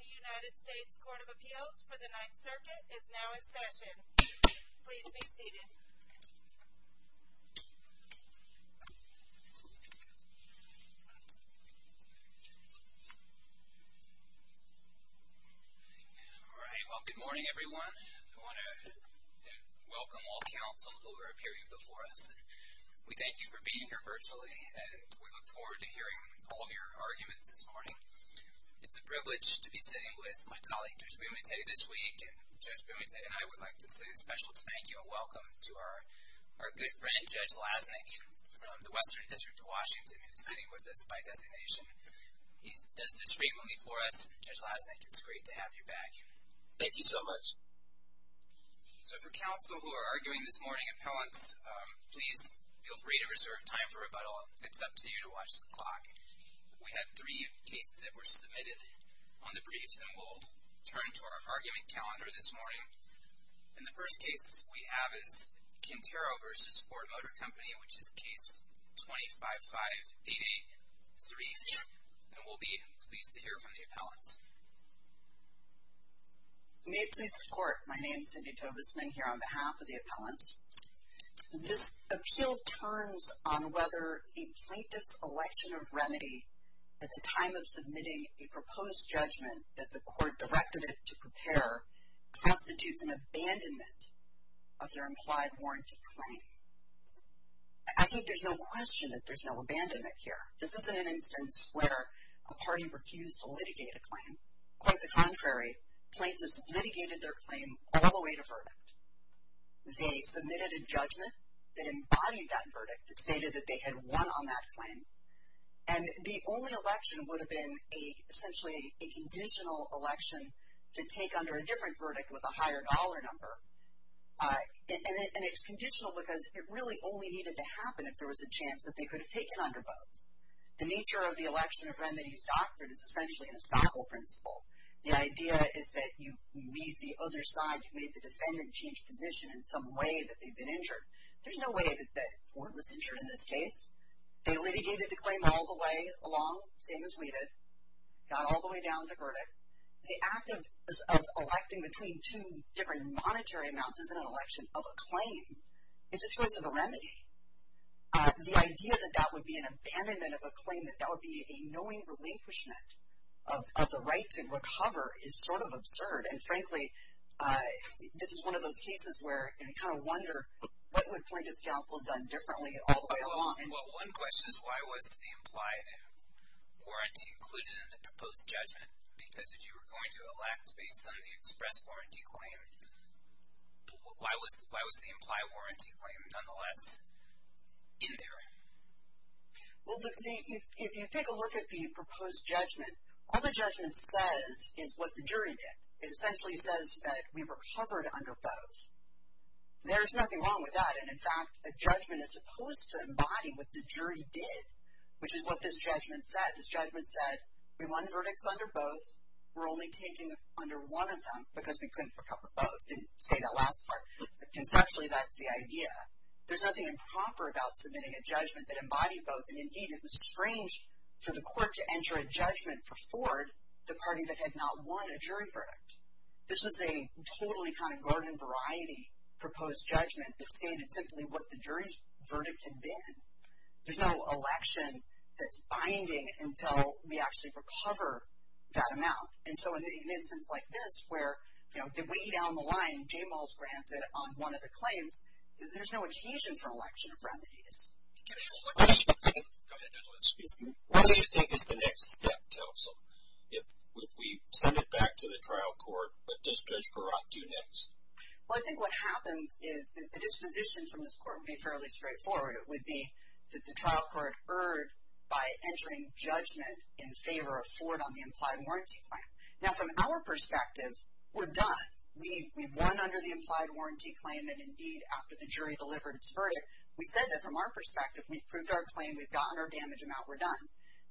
The United States Court of Appeals for the Ninth Circuit is now in session. Please be seated. All right, well, good morning everyone. I want to welcome all counsel who are appearing before us. We thank you for being here virtually, and we look forward to hearing all of your arguments this morning. It's a privilege to be sitting with my colleague, Judge Bumate, this week. And Judge Bumate and I would like to say a special thank you and welcome to our good friend, Judge Lasnik, from the Western District of Washington, who is sitting with us by designation. He does this frequently for us. Judge Lasnik, it's great to have you back. Thank you so much. So for counsel who are arguing this morning appellants, please feel free to reserve time for rebuttal. It's up to you to watch the clock. We have three cases that were submitted on the briefs, and we'll turn to our argument calendar this morning. And the first case we have is Quintero v. Ford Motor Company, which is case 25-5883. And we'll be pleased to hear from the appellants. May it please the Court, my name is Cindy Tovisman here on behalf of the appellants. This appeal turns on whether a plaintiff's election of remedy at the time of submitting a proposed judgment that the court directed it to prepare constitutes an abandonment of their implied warranty claim. I think there's no question that there's no abandonment here. This isn't an instance where a party refused to litigate a claim. Quite the contrary, plaintiffs litigated their claim all the way to verdict. They submitted a judgment that embodied that verdict. It stated that they had won on that claim. And the only election would have been essentially a conditional election to take under a different verdict with a higher dollar number. And it's conditional because it really only needed to happen if there was a chance that they could have taken under both. The nature of the election of remedies doctrine is essentially an estoppel principle. The idea is that you meet the other side, you've made the defendant change position in some way that they've been injured. There's no way that Ford was injured in this case. They litigated the claim all the way along, same as we did. Got all the way down to verdict. The act of electing between two different monetary amounts is an election of a claim. It's a choice of a remedy. The idea that that would be an abandonment of a claim, that that would be a knowing relinquishment of the right to recover is sort of absurd. And, frankly, this is one of those cases where you kind of wonder, what would Plaintiff's counsel have done differently all the way along? One question is why was the implied warranty included in the proposed judgment? Because if you were going to elect based on the express warranty claim, why was the implied warranty claim nonetheless in there? Well, if you take a look at the proposed judgment, all the judgment says is what the jury did. It essentially says that we recovered under both. There's nothing wrong with that. And, in fact, a judgment is supposed to embody what the jury did, which is what this judgment said. This judgment said we won verdicts under both. We're only taking under one of them because we couldn't recover both. Didn't say that last part. Conceptually, that's the idea. There's nothing improper about submitting a judgment that embodied both. And, indeed, it was strange for the court to enter a judgment for Ford, the party that had not won a jury verdict. This was a totally kind of garden-variety proposed judgment that stated simply what the jury's verdict had been. There's no election that's binding until we actually recover that amount. And so in an instance like this where, you know, way down the line, J-Mall's granted on one of the claims, there's no adhesion for an election of remedies. Can I ask one question? Go ahead, gentlemen. Speak to me. What do you think is the next step, counsel, if we send it back to the trial court? What does Judge Baratt do next? Well, I think what happens is the disposition from this court would be fairly straightforward. It would be that the trial court erred by entering judgment in favor of Ford on the implied warranty claim. Now, from our perspective, we're done. We've won under the implied warranty claim, and, indeed, after the jury delivered its verdict, we said that from our perspective, we've proved our claim, we've gotten our damage amount, we're done.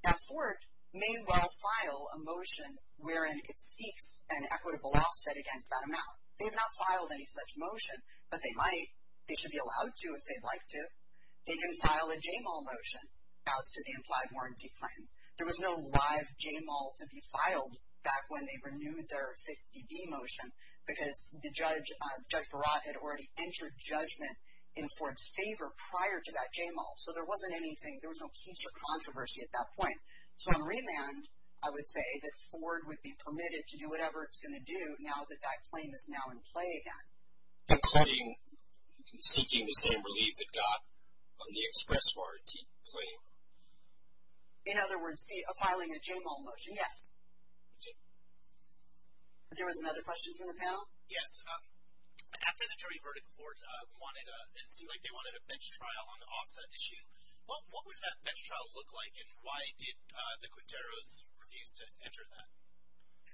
Now, Ford may well file a motion wherein it seeks an equitable offset against that amount. They've not filed any such motion, but they might. They should be allowed to if they'd like to. They can file a J-Mall motion as to the implied warranty claim. There was no live J-Mall to be filed back when they renewed their 50-D motion because Judge Baratt had already entered judgment in Ford's favor prior to that J-Mall. So there wasn't anything. There was no keys to controversy at that point. So on remand, I would say that Ford would be permitted to do whatever it's going to do now that that claim is now in play again. Including seeking the same relief it got on the express warranty claim. In other words, filing a J-Mall motion, yes. There was another question from the panel? Yes. After the jury verdict, Ford wanted, it seemed like they wanted a bench trial on the offset issue. What would that bench trial look like, and why did the Quinteros refuse to enter that?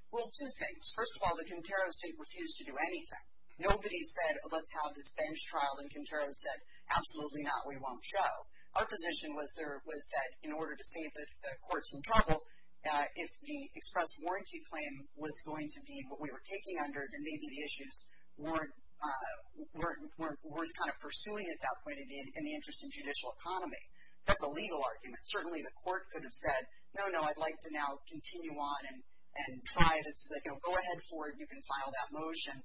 Well, two things. First of all, the Quinteros didn't refuse to do anything. Nobody said, let's have this bench trial, and Quinteros said, absolutely not, we won't show. Our position was that in order to save the court some trouble, if the express warranty claim was going to be what we were taking under, then maybe the issues weren't worth kind of pursuing at that point in the interest in judicial economy. That's a legal argument. Certainly the court could have said, no, no, I'd like to now continue on and try this. Go ahead, Ford, you can file that motion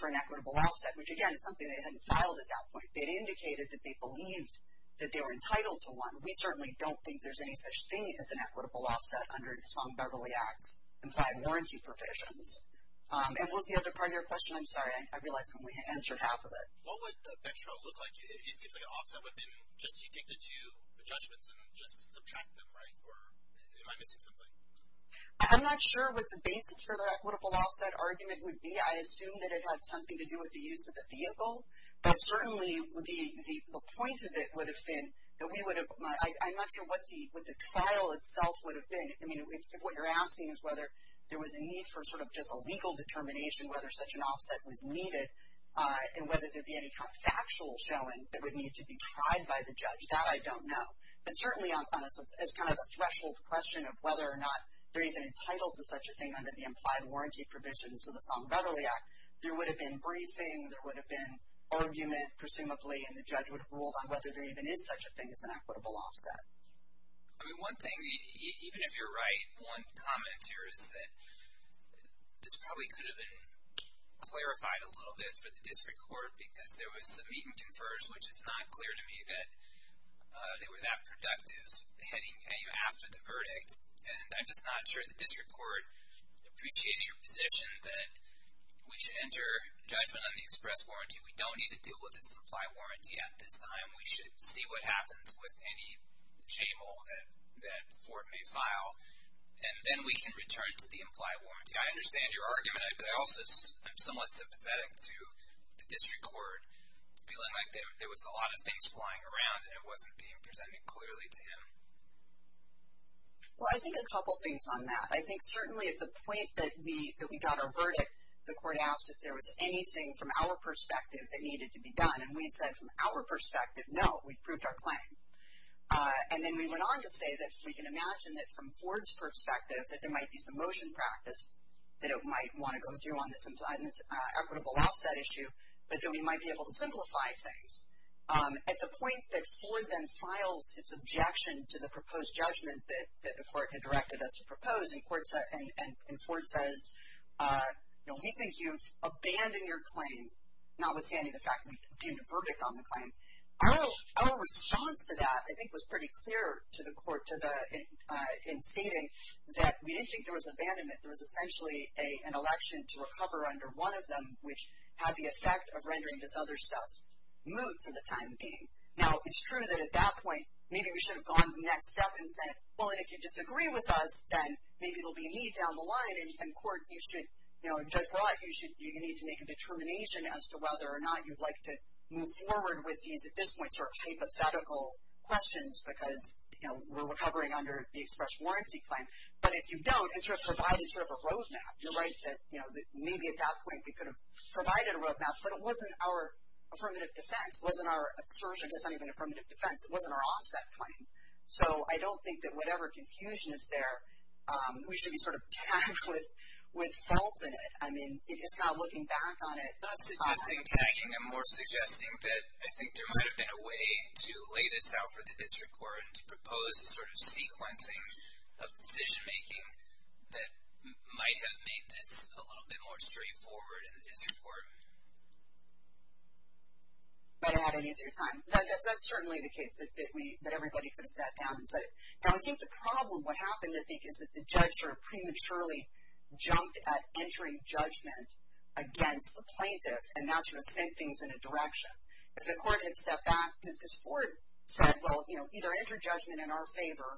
for an equitable offset. Which, again, is something they hadn't filed at that point. They'd indicated that they believed that they were entitled to one. We certainly don't think there's any such thing as an equitable offset under the Sloan-Beverly Act's implied warranty provisions. And what was the other part of your question? I'm sorry, I realized I only answered half of it. What would a bench trial look like? It seems like an offset would have been just you take the two judgments and just subtract them, right? Or am I missing something? I'm not sure what the basis for the equitable offset argument would be. I assume that it had something to do with the use of the vehicle. But certainly the point of it would have been that we would have ‑‑ I'm not sure what the trial itself would have been. I mean, if what you're asking is whether there was a need for sort of just a legal determination, whether such an offset was needed, and whether there would be any kind of factual showing that would need to be tried by the judge, that I don't know. But certainly as kind of a threshold question of whether or not they're even entitled to such a thing under the implied warranty provisions of the Sloan-Beverly Act, there would have been briefing, there would have been argument, presumably, and the judge would have ruled on whether there even is such a thing as an equitable offset. I mean, one thing, even if you're right, one comment here is that this probably could have been clarified a little bit for the district court because there was some meet and confers, which is not clear to me that they were that productive heading after the verdict. And I'm just not sure the district court appreciated your position that we should enter judgment on the express warranty. We don't need to deal with this implied warranty at this time. We should see what happens with any JMO that Fort may file, and then we can return to the implied warranty. I understand your argument, but I also am somewhat sympathetic to the district court feeling like there was a lot of things flying around and it wasn't being presented clearly to him. Well, I think a couple things on that. I think certainly at the point that we got our verdict, the court asked if there was anything from our perspective that needed to be done, and we said from our perspective, no, we've proved our claim. And then we went on to say that if we can imagine that from Ford's perspective, that there might be some motion practice that it might want to go through on this equitable offset issue, but that we might be able to simplify things. At the point that Ford then files its objection to the proposed judgment that the court had directed us to propose, and Ford says, we think you've abandoned your claim, notwithstanding the fact that we obtained a verdict on the claim. Our response to that, I think, was pretty clear to the court in stating that we didn't think there was abandonment. There was essentially an election to recover under one of them, which had the effect of rendering this other stuff moot for the time being. Now, it's true that at that point, maybe we should have gone to the next step and said, well, if you disagree with us, then maybe there will be a need down the line, and court, you should, you know, Judge Roy, you need to make a determination as to whether or not you'd like to move forward with these, at this point, sort of hypothetical questions because, you know, we're recovering under the express warranty claim. But if you don't, it sort of provided sort of a roadmap. You're right that, you know, maybe at that point we could have provided a roadmap, but it wasn't our affirmative defense. It wasn't our assertion. It's not even affirmative defense. It wasn't our offset claim. So I don't think that whatever confusion is there, we should be sort of tagged with felt in it. I mean, it's not looking back on it. Not suggesting tagging. I'm more suggesting that I think there might have been a way to lay this out for the district court and to propose a sort of sequencing of decision-making that might have made this a little bit more straightforward in the district court. Might have had an easier time. That's certainly the case, that everybody could have sat down and said it. Now, I think the problem, what happened, I think, is that the judge sort of prematurely jumped at entering judgment against the plaintiff, and now sort of sent things in a direction. If the court had stepped back, as Ford said, well, you know, either enter judgment in our favor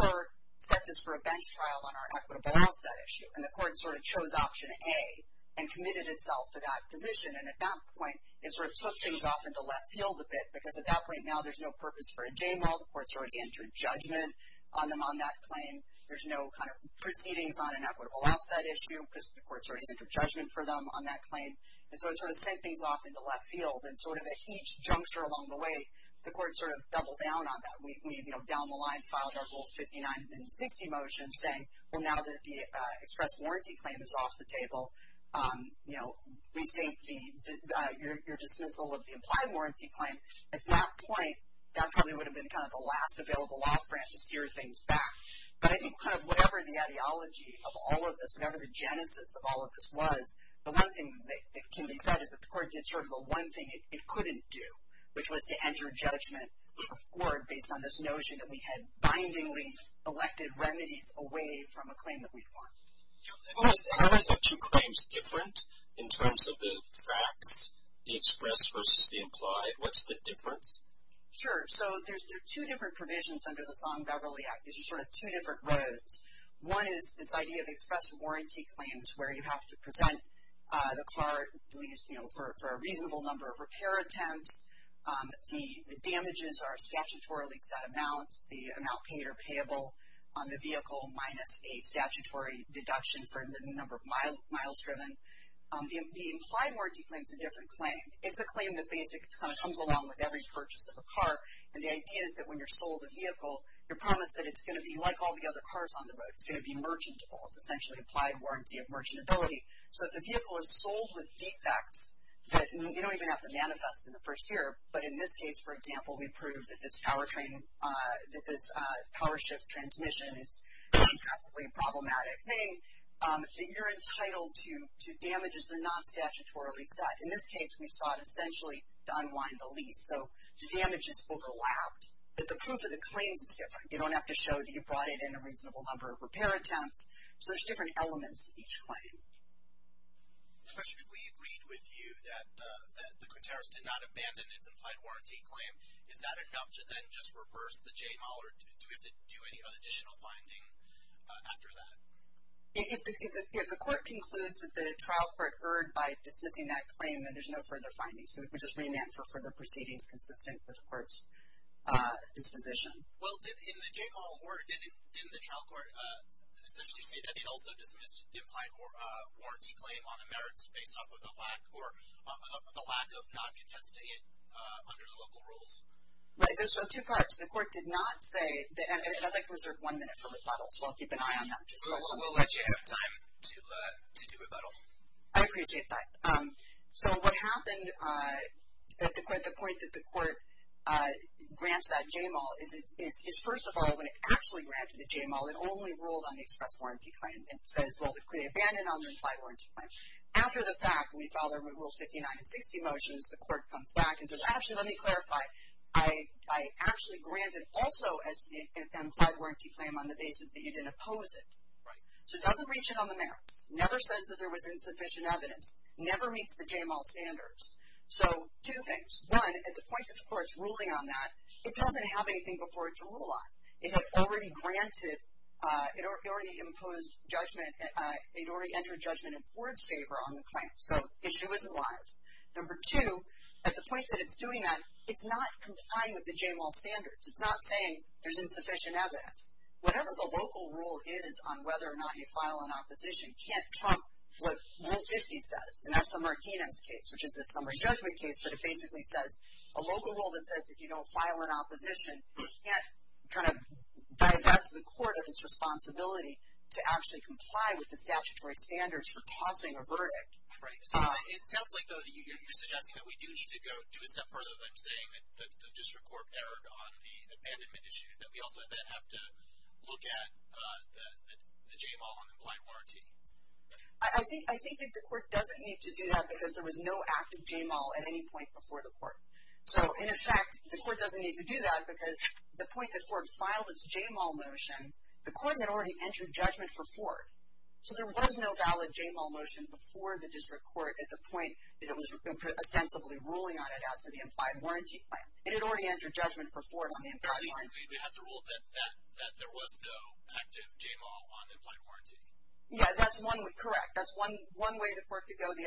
or set this for a bench trial on our equitable offset issue. And the court sort of chose option A and committed itself to that position. And at that point, it sort of took things off into left field a bit, because at that point now there's no purpose for a j-mall. The court sort of entered judgment on them on that claim. There's no kind of proceedings on an equitable offset issue, because the court sort of entered judgment for them on that claim. And so it sort of sent things off into left field. And sort of at each juncture along the way, the court sort of doubled down on that. We, you know, down the line filed our Rule 59 and 60 motion saying, well, now that the express warranty claim is off the table, you know, we think your dismissal of the implied warranty claim, at that point, that probably would have been kind of the last available law for it to steer things back. But I think kind of whatever the ideology of all of this, whatever the genesis of all of this was, the one thing that can be said is that the court did sort of the one thing it couldn't do, which was to enter judgment for Ford based on this notion that we had bindingly elected remedies away from a claim that we'd won. Yeah. And was having the two claims different in terms of the facts, the express versus the implied? What's the difference? Sure. So there's two different provisions under the Song-Beverly Act. These are sort of two different roads. One is this idea of express warranty claims where you have to present the car, you know, for a reasonable number of repair attempts. The damages are statutorily set amounts. The amount paid are payable on the vehicle minus a statutory deduction for the number of miles driven. The implied warranty claim is a different claim. It's a claim that basically kind of comes along with every purchase of a car. And the idea is that when you're sold a vehicle, you're promised that it's going to be like all the other cars on the road. It's going to be merchantable. It's essentially an implied warranty of merchantability. So if the vehicle is sold with defects that you don't even have to manifest in the first year, but in this case, for example, we proved that this power train, that this power shift transmission is a classically problematic thing, that you're entitled to damages that are not statutorily set. In this case, we sought essentially to unwind the lease. So the damages overlapped. But the proof of the claims is different. You don't have to show that you brought it in a reasonable number of repair attempts. So there's different elements to each claim. Question. If we agreed with you that the Quintaris did not abandon its implied warranty claim, is that enough to then just reverse the J. Moller? Do we have to do any additional finding after that? If the court concludes that the trial court erred by dismissing that claim, then there's no further findings. So we just remand for further proceedings consistent with the court's disposition. Well, didn't the trial court essentially say that it also dismissed the implied warranty claim on the merits based off of the lack of not contesting it under the local rules? Right. So there's two parts. The court did not say that I'd like to reserve one minute for rebuttal. So I'll keep an eye on that. We'll let you have time to do rebuttal. I appreciate that. So what happened at the point that the court grants that J. Moller is, first of all, when it actually granted the J. Moller, it only ruled on the express warranty claim. It says, well, they abandoned on the implied warranty claim. After the fact, we follow the rules 59 and 60 motions, the court comes back and says, actually, let me clarify. I actually granted also an implied warranty claim on the basis that you didn't oppose it. Right. So it doesn't reach in on the merits. Never says that there was insufficient evidence. Never meets the J. Moller standards. So two things. One, at the point that the court is ruling on that, it doesn't have anything before it to rule on. It had already granted, it already imposed judgment, it already entered judgment in Ford's favor on the claim. So issue is alive. Number two, at the point that it's doing that, it's not complying with the J. Moller standards. It's not saying there's insufficient evidence. Whatever the local rule is on whether or not you file an opposition, can't trump what Rule 50 says. And that's the Martinez case, which is a summary judgment case, but it basically says a local rule that says if you don't file an opposition, you can't kind of divest the court of its responsibility to actually comply with the statutory standards for causing a verdict. Right. So it sounds like, though, you're suggesting that we do need to go a step further than saying that the district court erred on the abandonment issue, that we also have to look at the J. Moll on the implied warranty. I think that the court doesn't need to do that because there was no active J. Moll at any point before the court. So, in effect, the court doesn't need to do that because the point that Ford filed its J. Moll motion, the court had already entered judgment for Ford. So there was no valid J. Moll motion before the district court at the point that it was ostensibly ruling on it as to the implied warranty claim. It had already entered judgment for Ford on the implied warranty claim. It has a rule that there was no active J. Moll on the implied warranty. Yeah, that's one way. Correct. That's one way the court could go. The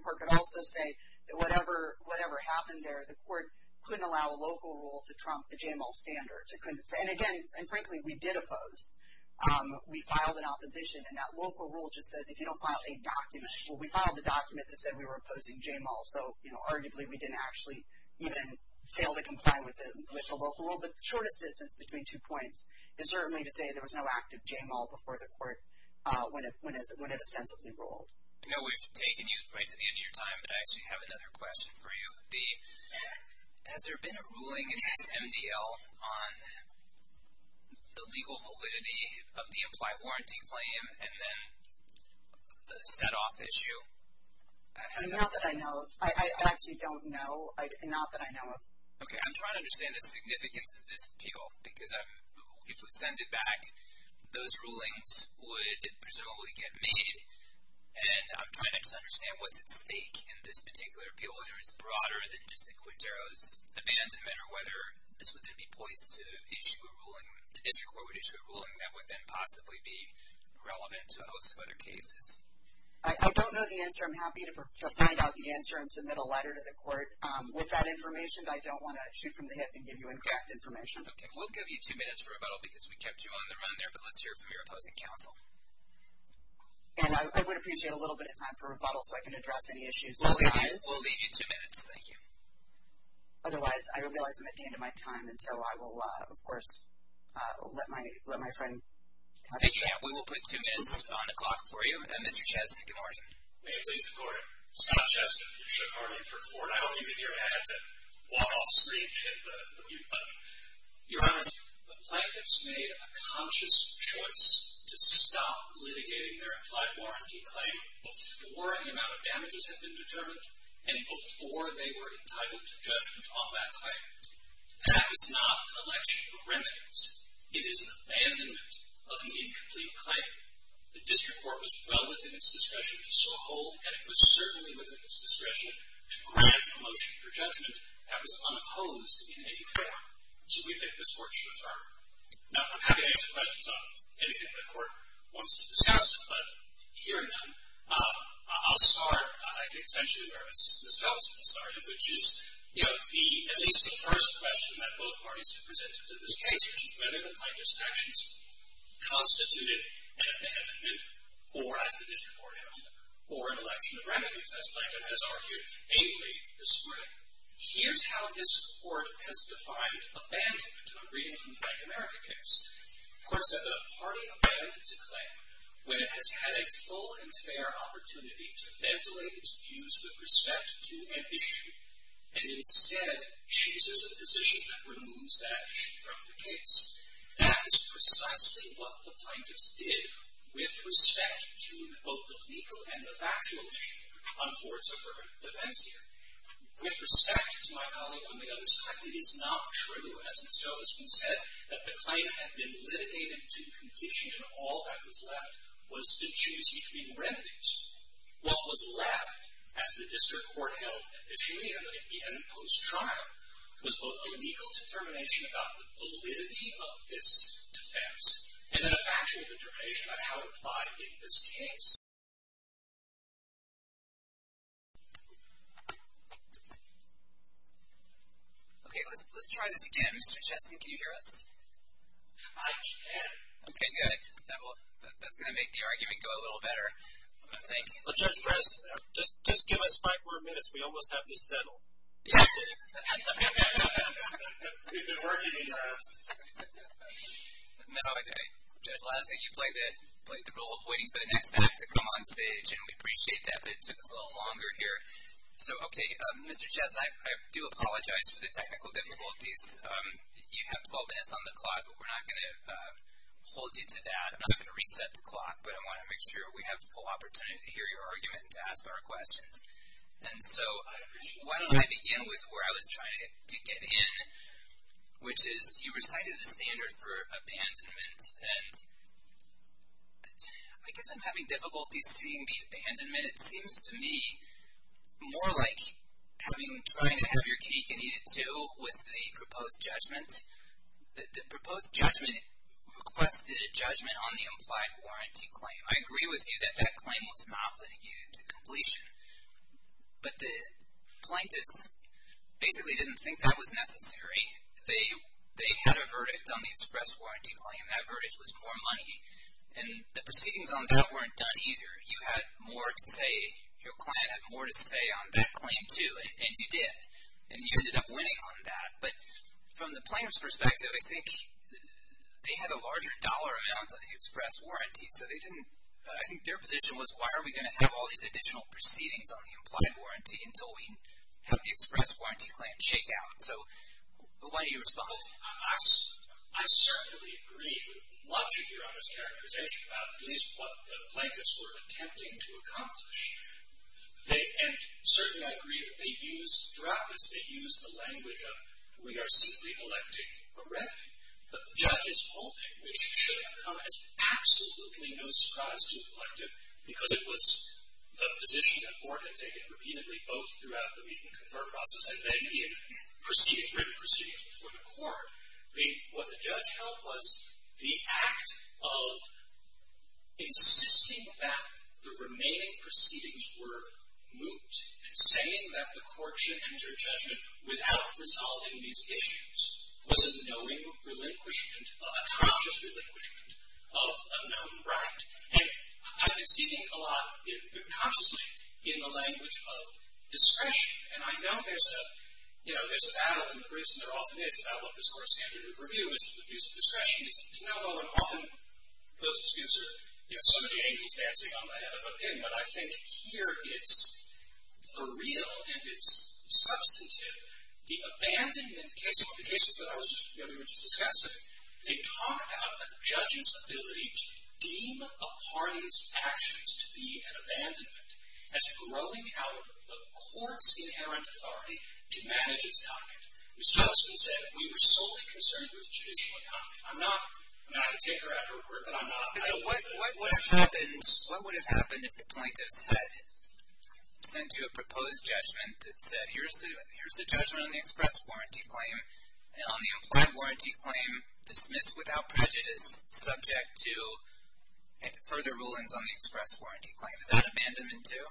court could also say that whatever happened there, the court couldn't allow a local rule to trump the J. Moll standards. It couldn't say. And, again, frankly, we did oppose. We filed an opposition, and that local rule just says if you don't file a document. Well, we filed a document that said we were opposing J. Moll. So, arguably, we didn't actually even fail to comply with the local rule. But the shortest distance between two points is certainly to say there was no active J. Moll before the court when it ostensibly ruled. I know we've taken you right to the end of your time, but I actually have another question for you. Has there been a ruling in this MDL on the legal validity of the implied warranty claim and then the set-off issue? Not that I know of. I actually don't know. Not that I know of. Okay, I'm trying to understand the significance of this appeal, because if we send it back, those rulings would presumably get made. And I'm trying to just understand what's at stake in this particular appeal, whether it's broader than just the Quintero's abandonment or whether this would then be poised to issue a ruling, the district court would issue a ruling that would then possibly be relevant to a host of other cases. I don't know the answer. With that information, I don't want to shoot from the hip and give you in-depth information. Okay, we'll give you two minutes for rebuttal because we kept you on the run there, but let's hear from your opposing counsel. And I would appreciate a little bit of time for rebuttal so I can address any issues. We'll leave you two minutes. Thank you. Otherwise, I realize I'm at the end of my time, and so I will, of course, let my friend have his say. We will put two minutes on the clock for you. Mr. Chesney, good morning. May it please the Court. It's not Chesney. It should hardly be for the Court. I hope you can hear me. I had to walk off screen and hit the mute button. Your Honor, the plaintiffs made a conscious choice to stop litigating their implied warranty claim before the amount of damages had been determined and before they were entitled to judgment on that claim. That is not an election of remittance. It is an abandonment of an incomplete claim. The district court was well within its discretion to so hold, and it was certainly within its discretion to grant a motion for judgment that was unopposed in any form. So we think this Court should defer. Now, I'm happy to answer questions on anything the Court wants to discuss, but hearing none, I'll start, I think, essentially where Ms. Felton started, which is at least the first question that both parties have presented to this case, whether the plaintiff's actions constituted an abandonment or, as the district court held, or an election of remittance, as Plaintiff has argued, namely the spring. Here's how this Court has defined abandonment of a Breeding from Black America case. The Court said the party abandoned its claim when it has had a full and fair opportunity to ventilate its views with respect to an issue and instead chooses a position that removes that issue from the case. That is precisely what the plaintiff's did with respect to, quote, the legal and the factual issue on Ford's deferred defense here. With respect to my colleague on the other side, it is not true, as Ms. Jo has been said, that the claim had been litigated to completion and all that was left was to choose between remedies. What was left, as the district court held in Virginia, again post-trial, was both a legal determination about the validity of this defense and then a factual determination about how to apply it in this case. Okay, let's try this again. Mr. Chesson, can you hear us? I can. Okay, good. That's going to make the argument go a little better. Well, Judge Press, just give us five more minutes. We almost have this settled. Yeah. We've been working these laps. No, I didn't. Judge Lasky, you played the role of waiting for the next act to come on stage, and we appreciate that, but it took us a little longer here. So, okay, Mr. Chesson, I do apologize for the technical difficulties. You have 12 minutes on the clock, but we're not going to hold you to that. I'm not going to reset the clock, but I want to make sure we have the full opportunity to hear your argument and to ask our questions. And so why don't I begin with where I was trying to get in, which is you recited the standard for abandonment, and I guess I'm having difficulty seeing the abandonment. It seems to me more like trying to have your cake and eat it too with the proposed judgment. The proposed judgment requested a judgment on the implied warranty claim. I agree with you that that claim was not litigated to completion, but the plaintiffs basically didn't think that was necessary. They had a verdict on the express warranty claim. That verdict was more money, and the proceedings on that weren't done either. You had more to say. Your client had more to say on that claim too, and he did, and you ended up winning on that. But from the plaintiff's perspective, I think they had a larger dollar amount on the express warranty, so I think their position was, why are we going to have all these additional proceedings on the implied warranty until we have the express warranty claim shake out? So why don't you respond? I certainly agree with much of your other characterization about at least what the plaintiffs were attempting to accomplish. And certainly I agree that they used, throughout this, they used the language of, we are simply electing a revenue. The judge's holding, which should have come as absolutely no surprise to the plaintiff, because it was the position that Ford had taken repeatedly, both throughout the meet and confer process, and then he had written proceedings before the court. What the judge held was the act of insisting that the remaining proceedings were moot, saying that the court should enter judgment without resolving these issues was a knowing relinquishment, a conscious relinquishment of a known right. And I've been speaking a lot, consciously, in the language of discretion. And I know there's a battle, and the reason there often is, about what this court's standard of review is, and the use of discretion is another one. Often those disputes are so many angels dancing on the head of a pin, but I think here it's a real, and it's substantive, the abandonment cases, the cases that we were just discussing, they talk about a judge's ability to deem a party's actions to be an abandonment, as growing out of the court's inherent authority to manage its docket. Mr. Osmond said we were solely concerned with judicial docket. I'm not a taker after a word, but I'm not. What would have happened if the plaintiffs had sent you a proposed judgment that said here's the judgment on the express warranty claim, and on the implied warranty claim, dismissed without prejudice, subject to further rulings on the express warranty claim? Is that abandonment too?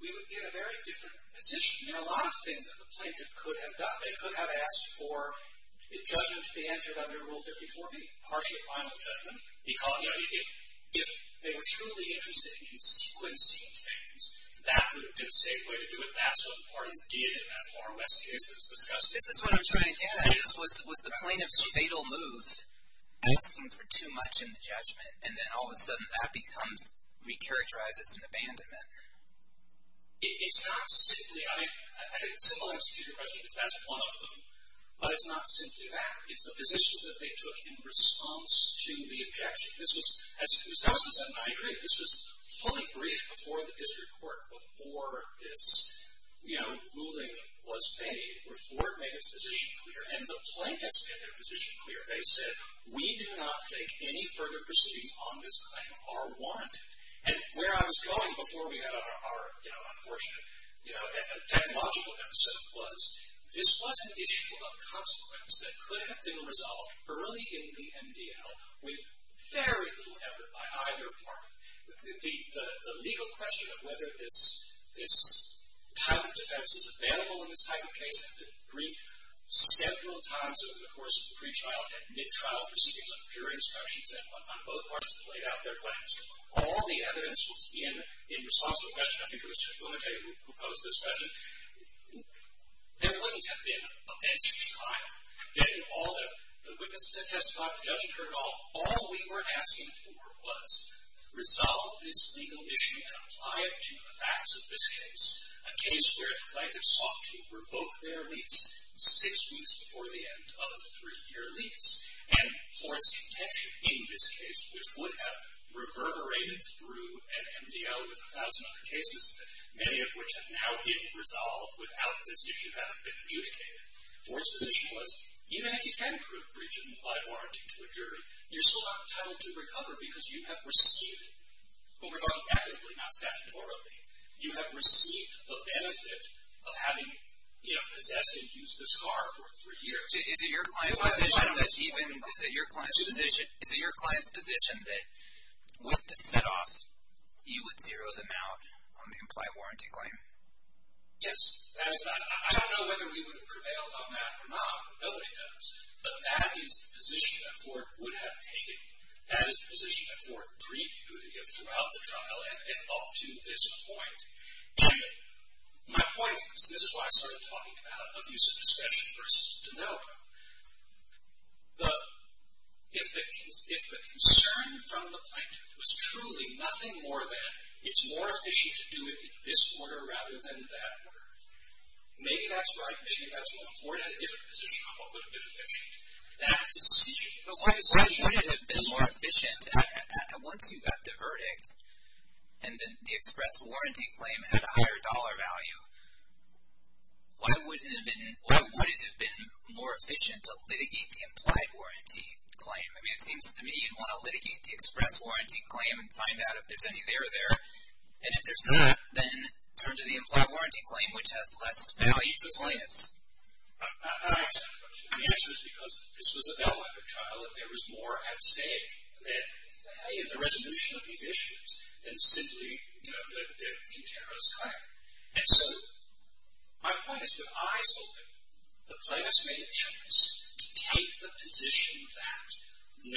We would be in a very different position. A lot of things that the plaintiff could have done, they could have asked for the judgment to be entered under Rule 54, the partial or final judgment. If they were truly interested in sequencing things, that would have been a safe way to do it, and that's what the parties did in that far west case that was discussed. This is what I'm trying to get at. Was the plaintiff's fatal move asking for too much in the judgment, and then all of a sudden that becomes, recharacterizes as an abandonment? It's not simply, I think it's similar to your question, because that's one of them, but it's not simply that. It's the position that they took in response to the objection. This was, as it was done since the 1990s, this was fully briefed before the district court, before this ruling was made, before it made its position clear. And the plaintiffs made their position clear. They said, we do not think any further proceedings on this claim are warranted. And where I was going before we had our unfortunate technological episode was this was an issue of consequence that could have been resolved early in the MDL with very little effort by either party. The legal question of whether this type of defense is available in this type of case had been briefed several times over the course of the pre-trial and mid-trial proceedings on jury instructions and on both parts that laid out their claims. All the evidence was in response to the question. And I think it was Mr. Clemente who posed this question. There wouldn't have been a better time, given all the witnesses that testified, the judge turned it off. All we were asking for was resolve this legal issue and apply it to the facts of this case, a case where the plaintiffs sought to revoke their lease six weeks before the end of the three-year lease. And for its contention in this case, which would have reverberated through an MDL with a thousand other cases, many of which have now been resolved without this issue having been adjudicated. Ford's position was even if you can approve a breach of an implied warranty to a jury, you're still not entitled to recover because you have received, but we're talking economically, not statutory, you have received the benefit of having possessed and used this car for three years. Is it your client's position that with the set-off, you would zero them out on the implied warranty claim? Yes. I don't know whether we would have prevailed on that or not. Nobody does. But that is the position that Ford would have taken. That is the position that Ford previewed throughout the trial and up to this point. My point is, and this is why I started talking about abuse of discussion, for us to know, if the concern from the plaintiff was truly nothing more than it's more efficient to do it this order rather than that order, maybe that's right, maybe that's wrong. Ford had a different position on what would have been efficient. That decision is efficient. What would have been more efficient once you got the verdict and then the express warranty claim had a higher dollar value? Why would it have been more efficient to litigate the implied warranty claim? I mean, it seems to me you'd want to litigate the express warranty claim and find out if there's any there or there. And if there's not, then turn to the implied warranty claim, which has less value to the plaintiffs. I understand the question. The answer is because this was a bail effort trial, and there was more at stake. I mean, the resolution of these issues than simply the contender's claim. And so my point is, with eyes open, the plaintiffs made a choice to take the position that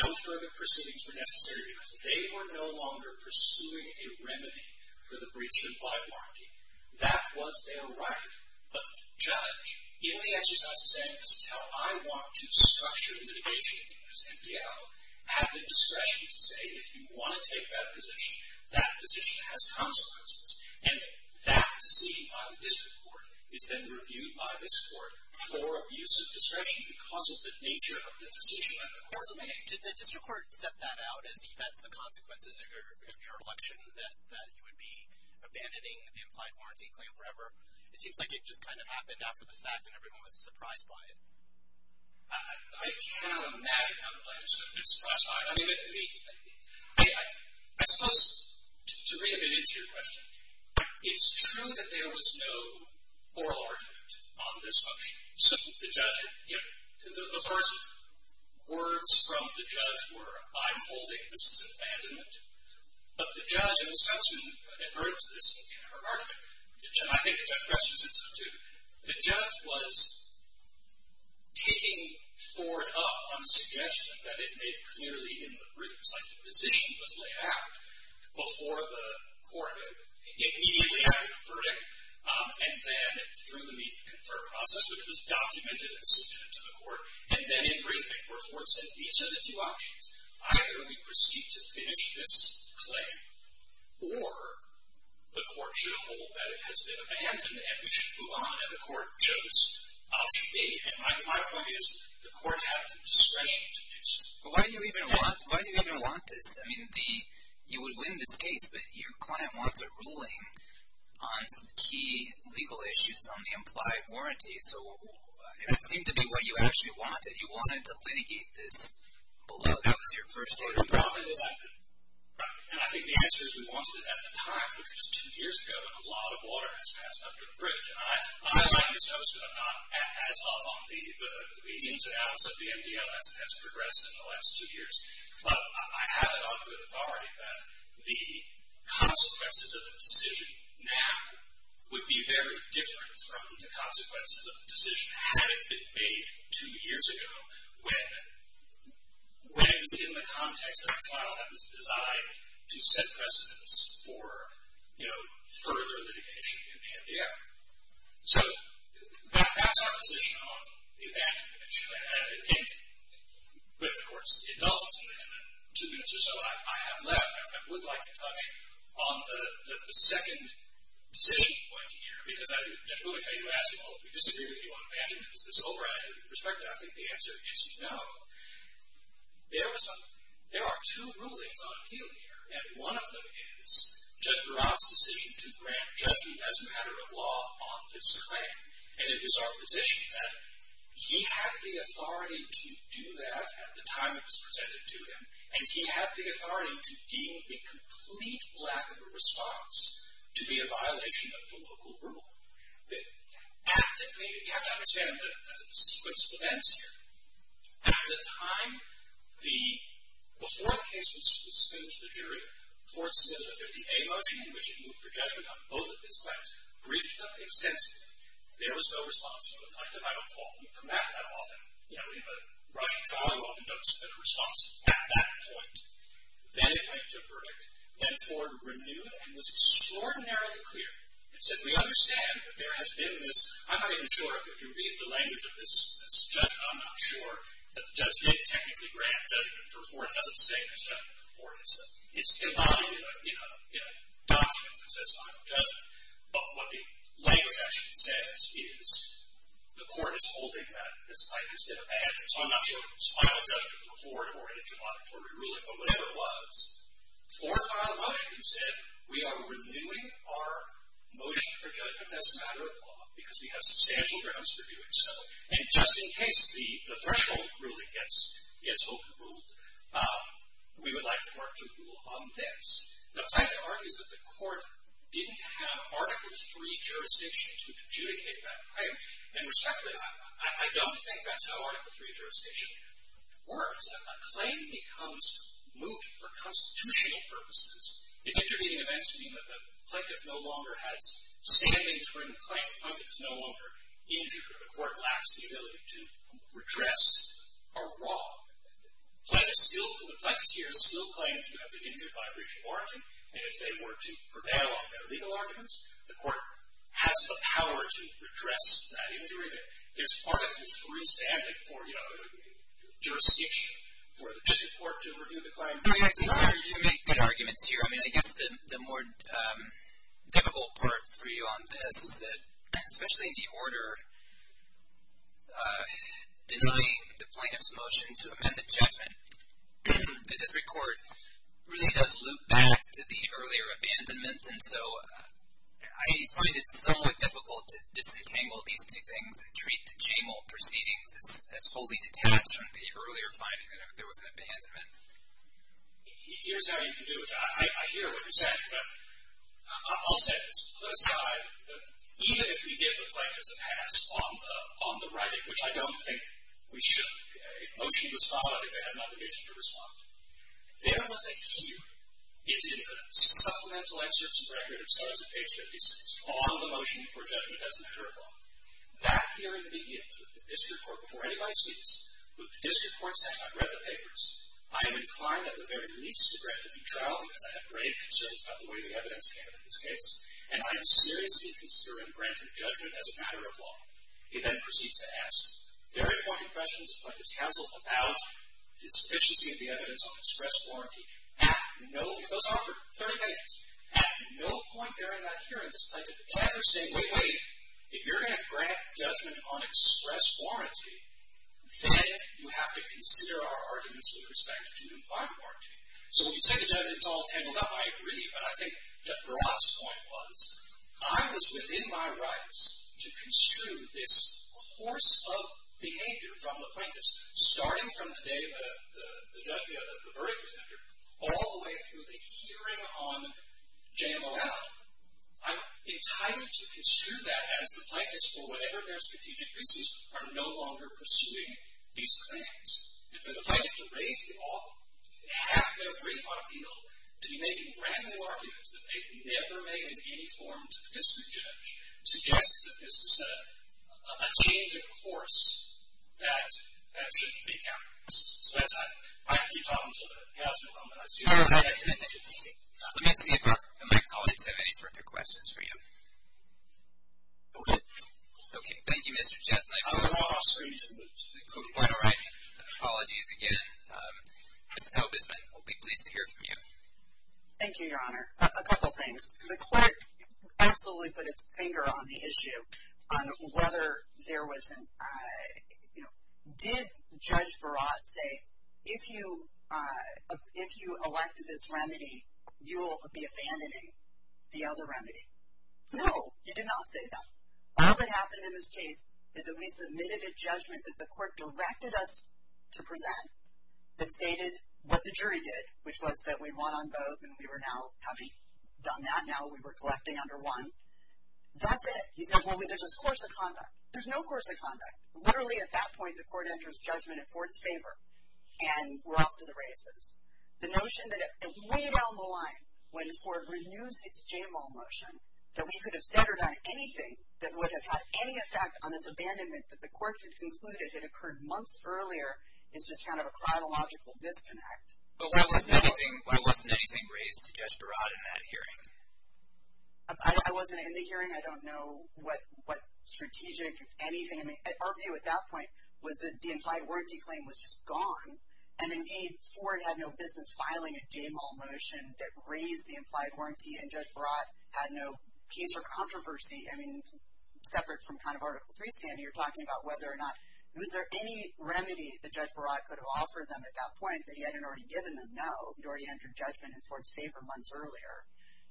no further proceedings were necessary because they were no longer pursuing a remedy for the breach of implied warranty. That was their right of judge. In the exercise of saying this is how I want to structure the litigation in this NPL, I have the discretion to say if you want to take that position, that position has consequences. And that decision by the district court is then reviewed by this court for abuse of discretion because of the nature of the decision that the court made. Did the district court set that out as that's the consequences of your election that you would be abandoning the implied warranty claim forever? It seems like it just kind of happened after the fact and everyone was surprised by it. I cannot imagine how the plaintiffs would have been surprised by it. I mean, I suppose to read a bit into your question, it's true that there was no oral argument on this function. So the judge, you know, the first words from the judge were, I'm holding this as abandonment. But the judge in Wisconsin had heard of this in her argument. I think the judge questions this too. The judge was picking Ford up on the suggestion that it made clearly in the briefs. Like the position was laid out before the court immediately after the verdict and then through the media confer process, which was documented and submitted to the court, and then in briefing where Ford said these are the two options. Either we proceed to finish this claim or the court should hold that it has been abandoned and we should move on and the court chose. And my point is the court had the discretion to do so. But why do you even want this? I mean, you would win this case, but your client wants a ruling on some key legal issues on the implied warranty. So it would seem to be what you actually wanted. You wanted to litigate this below. That was your first argument. And I think the answer is we wanted it at the time, which was two years ago when a lot of water has passed under the bridge. And I like this notice, but I'm not as up on the meetings and how much of the MDL has progressed in the last two years. But I have it under authority that the consequences of the decision now would be very different from the consequences of the decision had it been made two years ago when it was in the context of a trial that was designed to set precedence for further litigation in MDL. So that's our position on the abandonment issue. But, of course, it doesn't. In the two minutes or so I have left, I would like to touch on the second decision point here. Because I would tell you to ask, well, we disagree with you on abandonment. It's an over-added perspective. But I think the answer is no. There are two rulings on appeal here. And one of them is Judge Barra's decision to grant Judge Meade as a matter of law on this claim. And it is our position that he had the authority to do that at the time it was presented to him. And he had the authority to deem the complete lack of a response to be a violation of the local rule. You have to understand that the sequence of events here. At the time before the case was submitted to the jury, the court submitted a 50-day motion in which it moved for judgment on both of its claims, briefed them extensively. There was no response. It looked like the final call. We come back that often. We have a Russian trial who often don't submit a response at that point. Then it went to a verdict. Went forward, renewed, and was extraordinarily clear. It said, we understand that there has been this. I'm not even sure if you can read the language of this. I'm not sure that Judge Meade technically granted judgment before. It doesn't say there's judgment before. It's embodied in a document that says final judgment. But what the language actually says is the court is holding that this claim has been abandoned. So I'm not sure if it was final judgment before or in a judicatory ruling or whatever it was. For final judgment, it said, we are renewing our motion for judgment as a matter of law, because we have substantial grounds for doing so. And just in case the threshold ruling gets overruled, we would like the court to rule on this. The fact of the matter is that the court didn't have Article III jurisdiction to adjudicate that claim. And respectfully, I don't think that's how Article III jurisdiction works. A claim becomes moot for constitutional purposes. If intervening events mean that the plaintiff no longer has standing to bring a claim, the plaintiff is no longer injured, or the court lacks the ability to redress a wrong, the plaintiff is still claimed to have been injured by a breach of warranty. And if they were to prevail on their legal arguments, the court has the power to redress that injury. There's part of the III standard for jurisdiction for the district court to review the claim. I think you make good arguments here. I mean, I guess the more difficult part for you on this is that, especially in the order denying the plaintiff's motion to amend the judgment, the district court really does loop back to the earlier abandonment. And so I find it somewhat difficult to disentangle these two things and treat the JAMAL proceedings as wholly detached from the earlier finding that there was an abandonment. Here's how you can do it. I hear what you're saying, but I'll set this aside. Even if we give the plaintiffs a pass on the writing, which I don't think we should, if a motion was followed, I think they have nothing to respond to. There was a hue. It's in the supplemental excerpts and records, as I said, page 56, on the motion for judgment as a matter of law. Back here in the media, with the district court before any of my students, with the district court saying I've read the papers, I am inclined at the very least to grant a new trial, because I have grave concerns about the way the evidence came in this case, and I am seriously considering granting judgment as a matter of law. It then proceeds to ask very pointed questions of plaintiff's counsel about the sufficiency of the evidence on express warranty. Those are for 30 minutes. At no point during that hearing did this plaintiff ever say, wait, wait, if you're going to grant judgment on express warranty, then you have to consider our arguments with respect to bond warranty. So when you say the judgment is all tangled up, I agree, but I think Judge Barat's point was I was within my rights to construe this course of behavior from the plaintiffs, starting from the day of the verdict was entered, all the way through the hearing on JMOL. I'm entitled to construe that as the plaintiffs, for whatever their strategic reasons, are no longer pursuing these claims. And for the plaintiff to raise half their brief on appeal, to be making brand new arguments that they've never made in any form to the district judge, suggests that this is a change of course that shouldn't be counter-produced. So that's why I keep talking to the counselor. Let me see if my colleagues have any further questions for you. Okay. Okay. Thank you, Mr. Chesney. I'm not asking you to move to the court. All right. Apologies again. Ms. Tobisman, we'll be pleased to hear from you. Thank you, Your Honor. A couple things. The court absolutely put its finger on the issue on whether there was an, you know, did Judge Barat say, if you elected this remedy, you'll be abandoning the other remedy? No, he did not say that. All that happened in this case is that we submitted a judgment that the court directed us to present that stated what the jury did, which was that we'd won on both, and we were now having done that now. We were collecting under one. That's it. He says, well, there's this course of conduct. There's no course of conduct. Literally at that point, the court enters judgment in Ford's favor, and we're off to the races. The notion that way down the line, when Ford renews its Jamal motion, that we could have said or done anything that would have had any effect on this abandonment that the court had concluded had occurred months earlier is just kind of a chronological disconnect. But why wasn't anything raised to Judge Barat in that hearing? I wasn't in the hearing. I don't know what strategic, anything. Our view at that point was that the implied warranty claim was just gone, and, indeed, Ford had no business filing a Jamal motion that raised the implied warranty, and Judge Barat had no case or controversy. I mean, separate from kind of Article III standing, you're talking about whether or not, was there any remedy that Judge Barat could have offered them at that point that he hadn't already given them? No. He hadn't already entered judgment in Ford's favor months earlier.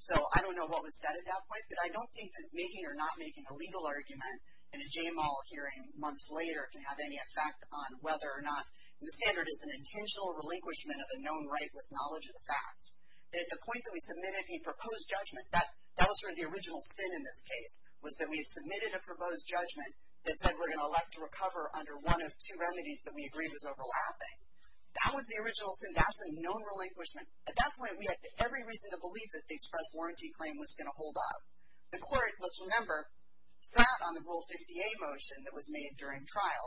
So I don't know what was said at that point, but I don't think that making or not making a legal argument in a Jamal hearing months later can have any effect on whether or not, and the standard is an intentional relinquishment of a known right with knowledge of the facts. At the point that we submitted a proposed judgment, that was sort of the original sin in this case, was that we had submitted a proposed judgment that said we're going to elect to recover under one of two remedies that we agreed was overlapping. That was the original sin. That's a known relinquishment. At that point, we had every reason to believe that the express warranty claim was going to hold up. The court, let's remember, sat on the Rule 50A motion that was made during trial.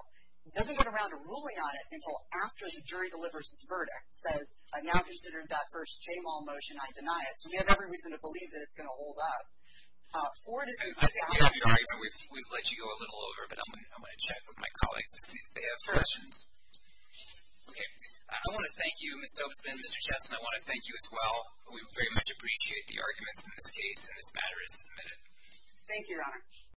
It doesn't get around to ruling on it until after the jury delivers its verdict, says, I've now considered that first Jamal motion. I deny it. So we have every reason to believe that it's going to hold up. Ford isn't. We've let you go a little over, but I'm going to check with my colleagues to see if they have questions. Okay. I want to thank you, Ms. Dobson and Mr. Chesson. I want to thank you as well. We very much appreciate the arguments in this case, Thank you, Your Honor.